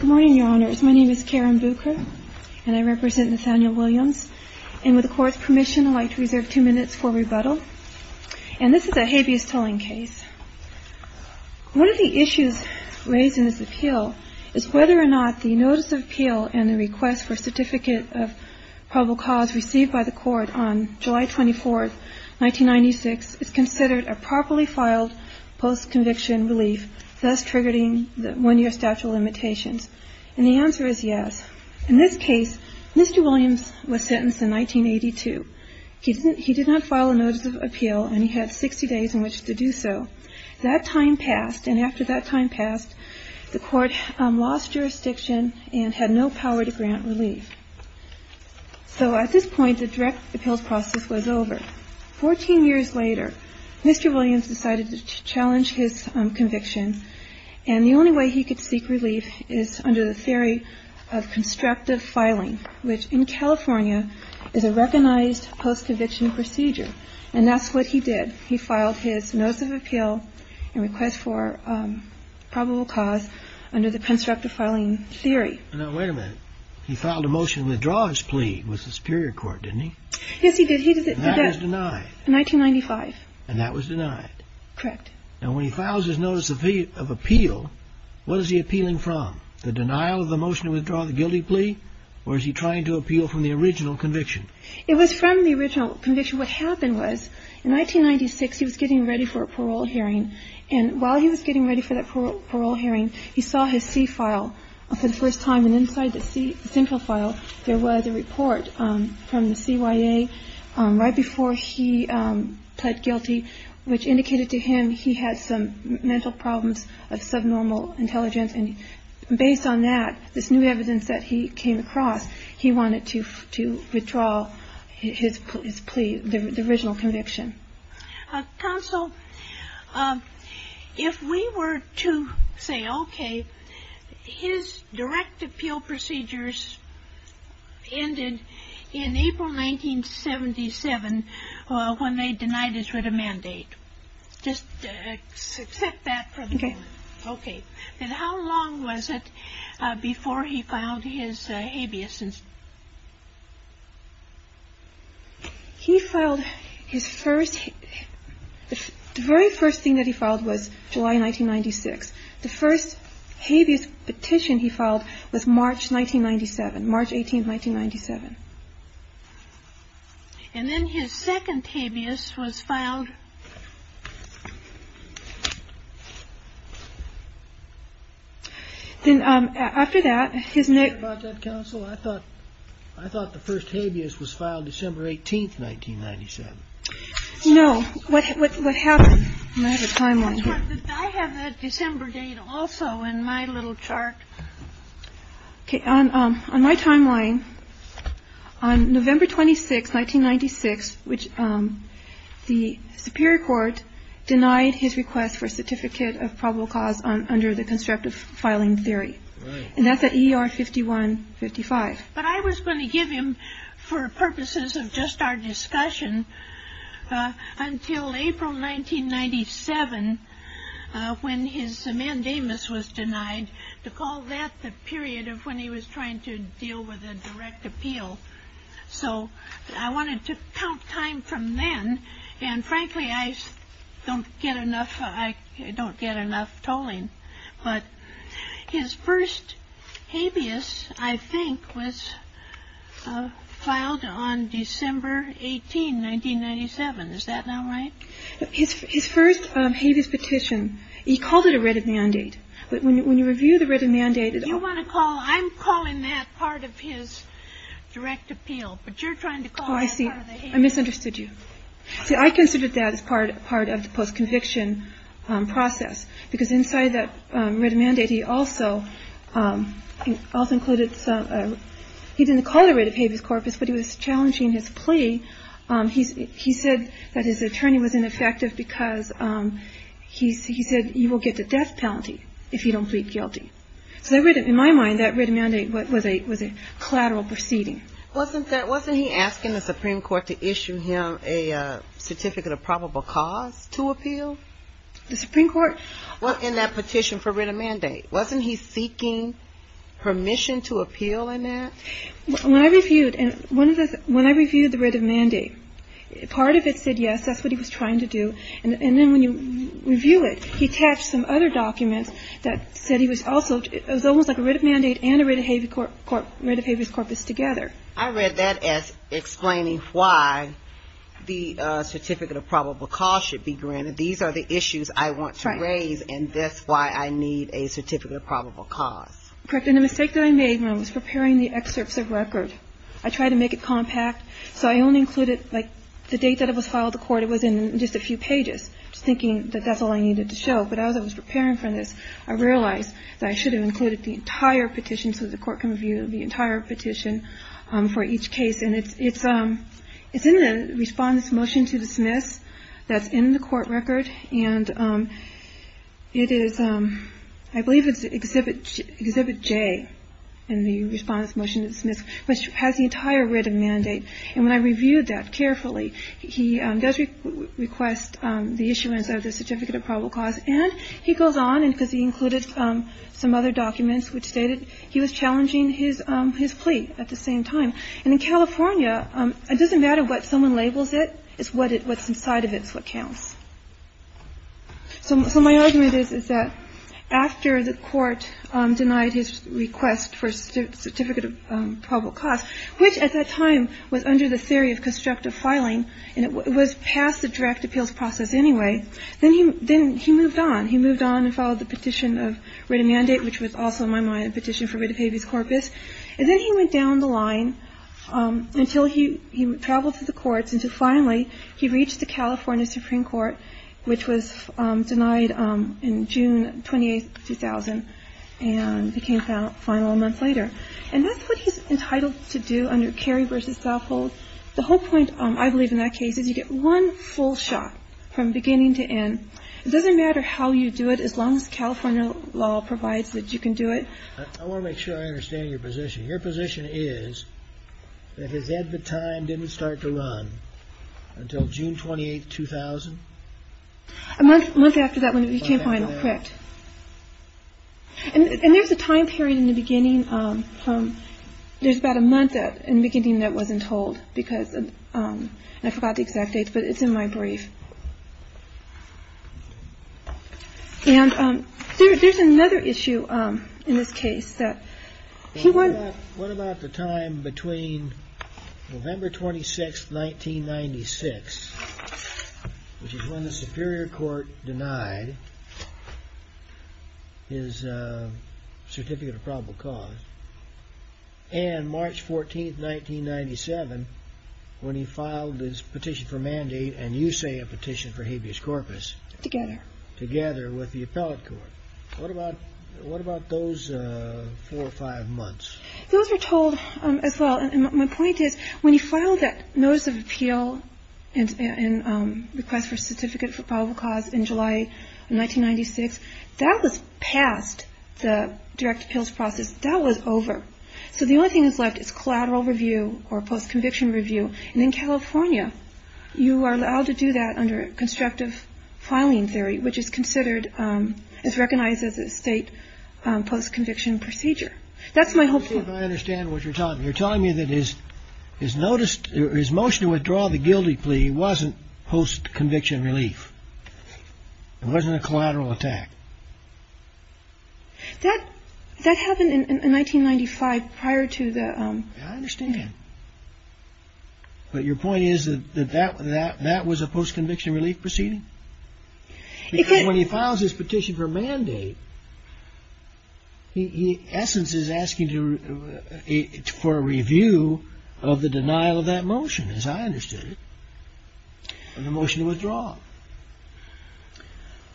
Good morning, Your Honors. My name is Karen Bucher, and I represent Nathaniel Williams. And with the Court's permission, I'd like to reserve two minutes for rebuttal. And this is a habeas tolling case. One of the issues raised in this appeal is whether or not the notice of appeal and the request for a certificate of probable cause received by the Court on July 24, 1996 is considered a properly filed post-conviction relief, thus triggering the one-year statute of limitations. And the answer is yes. In this case, Mr. Williams was sentenced in 1982. He did not file a notice of appeal, and he had 60 days in which to do so. That time passed, and after that time passed, the Court lost jurisdiction and had no power to grant relief. So at this point, the direct appeals process was over. Fourteen years later, Mr. Williams decided to challenge his conviction. And the only way he could seek relief is under the theory of constructive filing, which in California is a recognized post-conviction procedure. And that's what he did. He filed his notice of appeal and request for probable cause under the constructive filing theory. Now, wait a minute. He filed a motion to withdraw his plea with the Superior Court, didn't he? Yes, he did. He did. And that was denied? In 1995. And that was denied? Correct. Now, when he files his notice of appeal, what is he appealing from? The denial of the motion to withdraw the guilty plea, or is he trying to appeal from the original conviction? It was from the original conviction. What happened was in 1996, he was getting ready for a parole hearing. And while he was getting ready for that parole hearing, he saw his C file for the first time. And inside the C central file, there was a report from the CYA right before he pled guilty, which indicated to him he had some mental problems of subnormal intelligence. And based on that, this new evidence that he came across, he wanted to withdraw his plea, the original conviction. Counsel, if we were to say, OK, his direct appeal procedures ended in April 1977 when they denied his writ of mandate. Just accept that for the moment. OK. OK. And how long was it before he filed his habeas? He filed his first – the very first thing that he filed was July 1996. The first habeas petition he filed was March 1997, March 18, 1997. And then his second habeas was filed. Then after that, his next – Counsel, I thought – I thought the first habeas was filed December 18, 1997. No. What happened – I have a timeline here. I have a December date also in my little chart. OK. On my timeline, on November 26, 1996, which the superior court denied his request for certificate of probable cause under the constructive filing theory. And that's at E.R. 51-55. But I was going to give him, for purposes of just our discussion, until April 1997 when his mandamus was denied. To call that the period of when he was trying to deal with a direct appeal. So I wanted to count time from then. And frankly, I don't get enough – I don't get enough tolling. But his first habeas, I think, was filed on December 18, 1997. Is that not right? His first habeas petition, he called it a writ of mandate. But when you review the writ of mandate – You want to call – I'm calling that part of his direct appeal. But you're trying to call that part of the habeas. Oh, I see. I misunderstood you. See, I considered that as part of the post-conviction process. Because inside that writ of mandate, he also included some – he didn't call it a writ of habeas corpus, but he was challenging his plea. He said that his attorney was ineffective because he said you will get the death penalty if you don't plead guilty. So in my mind, that writ of mandate was a collateral proceeding. Wasn't that – wasn't he asking the Supreme Court to issue him a certificate of probable cause to appeal? The Supreme Court – In that petition for writ of mandate. Wasn't he seeking permission to appeal in that? When I reviewed – and one of the – when I reviewed the writ of mandate, part of it said yes, that's what he was trying to do. And then when you review it, he attached some other documents that said he was also – it was almost like a writ of mandate and a writ of habeas corpus together. I read that as explaining why the certificate of probable cause should be granted. These are the issues I want to raise, and that's why I need a certificate of probable cause. Correct. And the mistake that I made when I was preparing the excerpts of record, I tried to make it compact, so I only included, like, the date that it was filed to court. It was in just a few pages, just thinking that that's all I needed to show. But as I was preparing for this, I realized that I should have included the entire petition, so the court can review the entire petition for each case. And it's in the Respondent's Motion to Dismiss that's in the court record. And it is – I believe it's Exhibit J in the Respondent's Motion to Dismiss, which has the entire writ of mandate. And when I reviewed that carefully, he does request the issuance of the certificate of probable cause. And he goes on, because he included some other documents which stated he was challenging his plea at the same time. And in California, it doesn't matter what someone labels it. It's what's inside of it is what counts. So my argument is, is that after the court denied his request for a certificate of probable cause, which at that time was under the theory of constructive filing, and it was past the direct appeals process anyway, then he moved on. He moved on and followed the petition of writ of mandate, which was also, in my mind, a petition for writ of habeas corpus. And then he went down the line until he traveled to the courts, until finally he reached the California Supreme Court, which was denied in June 28, 2000, and became final a month later. And that's what he's entitled to do under Cary v. Southolt. The whole point, I believe, in that case is you get one full shot from beginning to end. It doesn't matter how you do it, as long as California law provides that you can do it. I want to make sure I understand your position. Your position is that his ad vitam didn't start to run until June 28, 2000? A month after that, when he became final, correct. And there's a time period in the beginning. There's about a month in the beginning that wasn't told because I forgot the exact date, but it's in my brief. And there's another issue in this case that he won. What about the time between November 26, 1996, which is when the Superior Court denied his certificate of probable cause, and March 14, 1997, when he filed his petition for mandate, and you say a petition for habeas corpus? Together. Together with the appellate court. What about those four or five months? Those were told as well. And my point is when he filed that notice of appeal and request for certificate for probable cause in July 1996, that was past the direct appeals process. That was over. So the only thing that's left is collateral review or post-conviction review. And in California, you are allowed to do that under constructive filing theory, which is considered is recognized as a state post-conviction procedure. That's my hope. I understand what you're talking. You're telling me that is is noticed his motion to withdraw the guilty plea wasn't post-conviction relief. It wasn't a collateral attack. That that happened in 1995 prior to the. I understand. But your point is that that that that was a post-conviction relief proceeding. When he files his petition for mandate. The essence is asking for a review of the denial of that motion, as I understood it. And the motion to withdraw.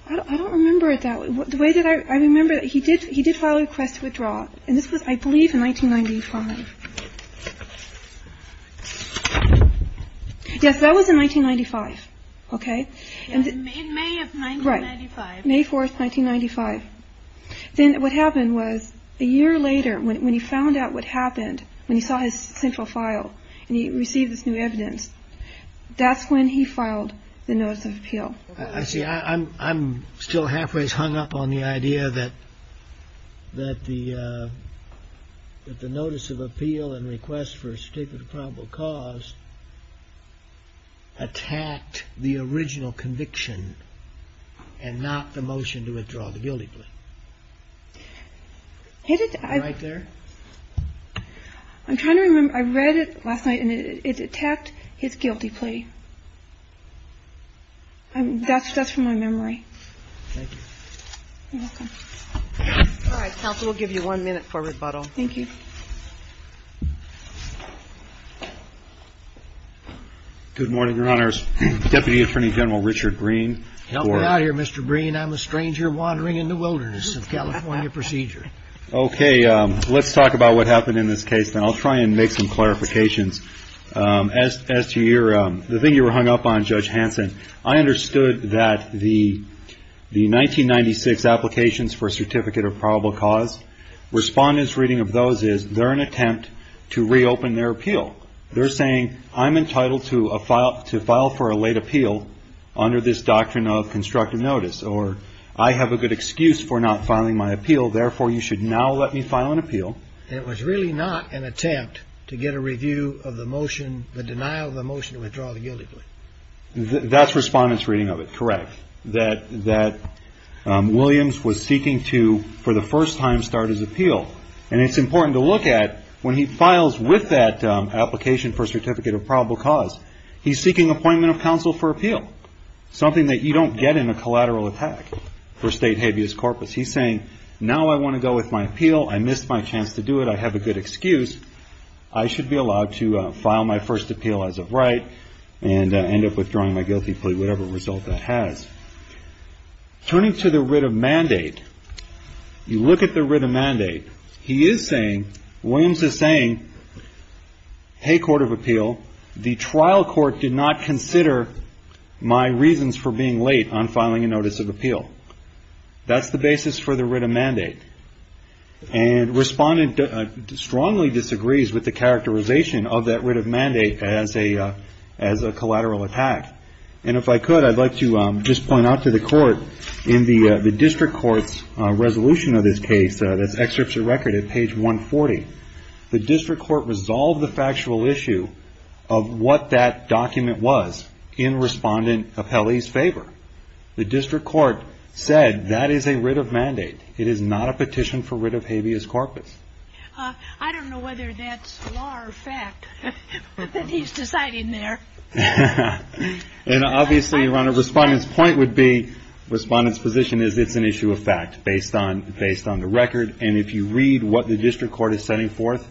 I don't remember it that way. The way that I remember it, he did. He did file a request to withdraw. And this was, I believe, in 1995. Yes, that was in 1995. OK. And in May of 1995, May 4th, 1995. Then what happened was a year later, when he found out what happened, when he saw his central file and he received this new evidence. That's when he filed the notice of appeal. I see. I'm I'm still halfway hung up on the idea that. That the that the notice of appeal and request for a statement of probable cause. Attacked the original conviction and not the motion to withdraw the guilty plea. Right there. I'm trying to remember. I read it last night and it attacked his guilty plea. And that's just from my memory. Thank you. You're welcome. All right. Counsel will give you one minute for rebuttal. Thank you. Good morning, Your Honors. Deputy Attorney General Richard Green. Help me out here, Mr. Green. I'm a stranger wandering in the wilderness of California procedure. OK. Let's talk about what happened in this case. And I'll try and make some clarifications. As as to your the thing you were hung up on, Judge Hanson, I understood that the the 1996 applications for a certificate of probable cause. Respondents reading of those is they're an attempt to reopen their appeal. They're saying I'm entitled to a file to file for a late appeal under this doctrine of constructive notice or I have a good excuse for not filing my appeal. Therefore, you should now let me file an appeal. It was really not an attempt to get a review of the motion, the denial of the motion to withdraw the guilty plea. That's respondents reading of it. Correct. That that Williams was seeking to, for the first time, start his appeal. And it's important to look at when he files with that application for certificate of probable cause. He's seeking appointment of counsel for appeal, something that you don't get in a collateral attack for state habeas corpus. He's saying now I want to go with my appeal. I missed my chance to do it. I have a good excuse. I should be allowed to file my first appeal as of right and end up withdrawing my guilty plea, whatever result that has. Turning to the writ of mandate. You look at the writ of mandate. He is saying Williams is saying, hey, court of appeal. The trial court did not consider my reasons for being late on filing a notice of appeal. That's the basis for the writ of mandate. And respondent strongly disagrees with the characterization of that writ of mandate as a as a collateral attack. And if I could, I'd like to just point out to the court in the district court's resolution of this case. That's excerpts of record at page 140. The district court resolved the factual issue of what that document was in respondent appellees favor. The district court said that is a writ of mandate. It is not a petition for writ of habeas corpus. I don't know whether that's law or fact that he's deciding there. And obviously, your Honor, respondent's point would be respondent's position is it's an issue of fact based on based on the record. And if you read what the district court is setting forth,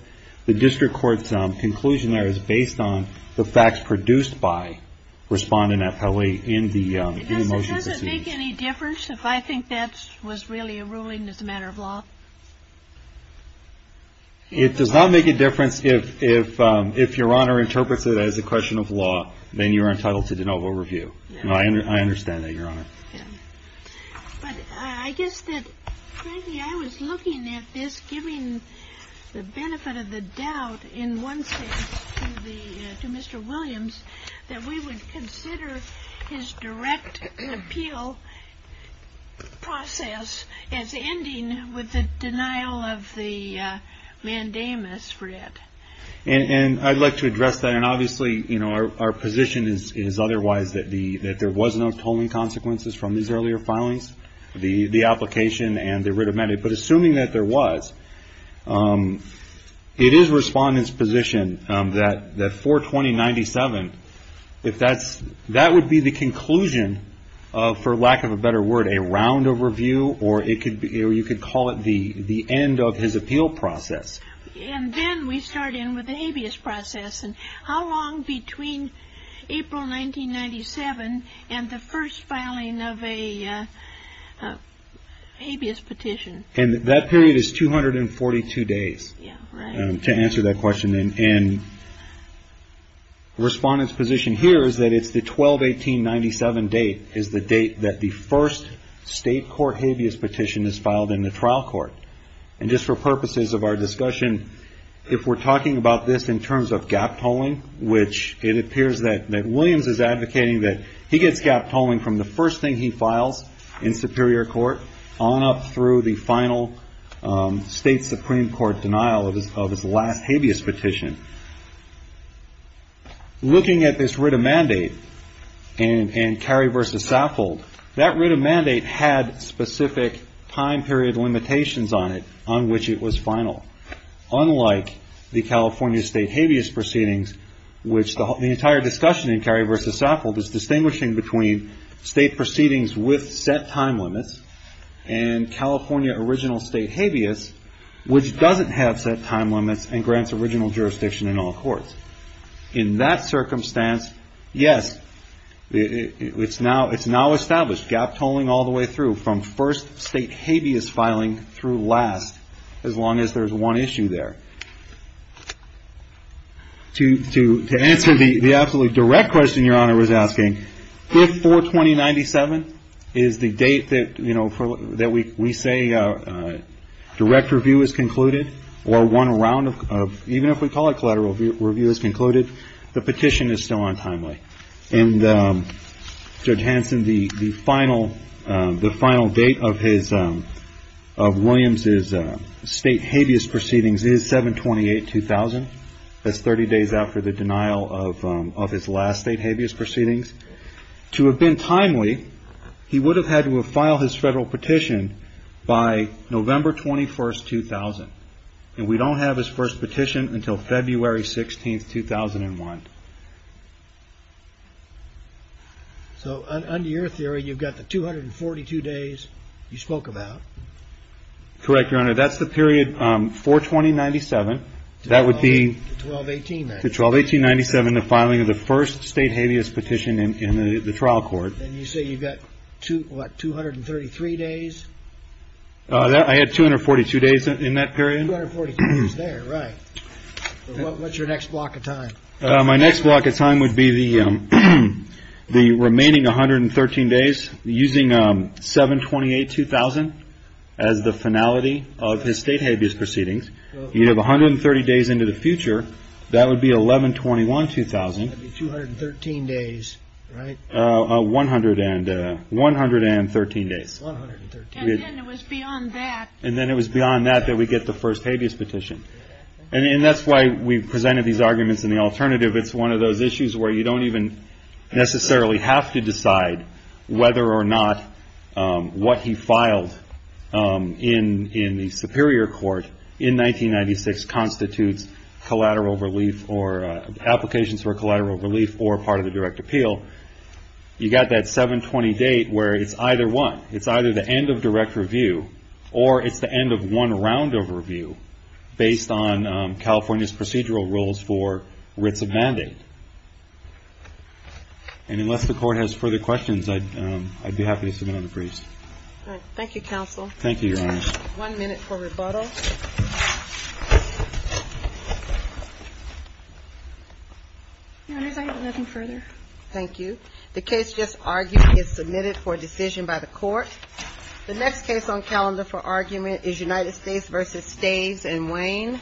the district court's conclusion there is based on the facts produced by respondent appellee in the motion. It doesn't make any difference if I think that was really a ruling as a matter of law. It does not make a difference if if if your Honor interprets it as a question of law, then you are entitled to de novo review. I understand that your Honor. But I guess that I was looking at this, giving the benefit of the doubt in one to Mr. Williams, that we would consider his direct appeal process as ending with the denial of the mandamus for it. And I'd like to address that. And obviously, you know, our position is is otherwise that the that there was no tolling consequences from these earlier filings, the application and the writ of mandate. But assuming that there was, it is respondent's position that that for 2097, if that's that would be the conclusion for lack of a better word, a round overview. Or it could be or you could call it the the end of his appeal process. And then we start in with the habeas process. And how long between April 1997 and the first filing of a habeas petition? And that period is two hundred and forty two days to answer that question. And the respondents position here is that it's the twelve eighteen ninety seven date is the date that the first state court habeas petition is filed in the trial court. And just for purposes of our discussion, if we're talking about this in terms of gap tolling, which it appears that that Williams is advocating that he gets gap tolling from the first thing he files in superior court on up through the final state Supreme Court denial of his of his last habeas petition. Looking at this writ of mandate and Carrie versus Saffold, that writ of mandate had specific time period limitations on it on which it was final. Unlike the California state habeas proceedings, which the entire discussion in Carrie versus Saffold is distinguishing between state proceedings with set time limits and California original state habeas, which doesn't have set time limits and grants original jurisdiction in all courts. In that circumstance, yes, it's now it's now established gap tolling all the way through from first state habeas filing through last. As long as there's one issue there to to to answer the absolutely direct question your honor was asking before twenty ninety seven is the date that, you know, that we we say direct review is concluded or one round of even if we call it collateral review is concluded. The petition is still untimely. And Judge Hansen, the final the final date of his of Williams is state habeas proceedings is seven twenty eight two thousand. That's 30 days after the denial of of his last state habeas proceedings to have been timely. He would have had to have filed his federal petition by November 21st, 2000. And we don't have his first petition until February 16th, 2001. So under your theory, you've got the two hundred and forty two days you spoke about. Correct, your honor. That's the period for twenty ninety seven. That would be twelve eighteen to twelve eighteen ninety seven, the filing of the first state habeas petition in the trial court. And you say you've got to what? Two hundred and thirty three days. I had two hundred forty two days in that period. Right. What's your next block of time? My next block of time would be the the remaining one hundred and thirteen days using seven twenty eight two thousand as the finality of his state habeas proceedings. You have one hundred and thirty days into the future. That would be eleven twenty one two thousand two hundred and thirteen days. One hundred and one hundred and thirteen days. And then it was beyond that. And then it was beyond that, that we get the first habeas petition. And that's why we presented these arguments in the alternative. It's one of those issues where you don't even necessarily have to decide whether or not what he filed. In the Superior Court in nineteen ninety six constitutes collateral relief or applications for collateral relief or part of the direct appeal. You got that seven twenty date where it's either one. It's either the end of direct review or it's the end of one round of review based on California's procedural rules for writs of mandate. And unless the court has further questions, I'd be happy to submit on the briefs. Thank you, counsel. Thank you. One minute for rebuttal. Nothing further. Thank you. The case just argued is submitted for decision by the court. The next case on calendar for argument is United States versus stays and Wayne.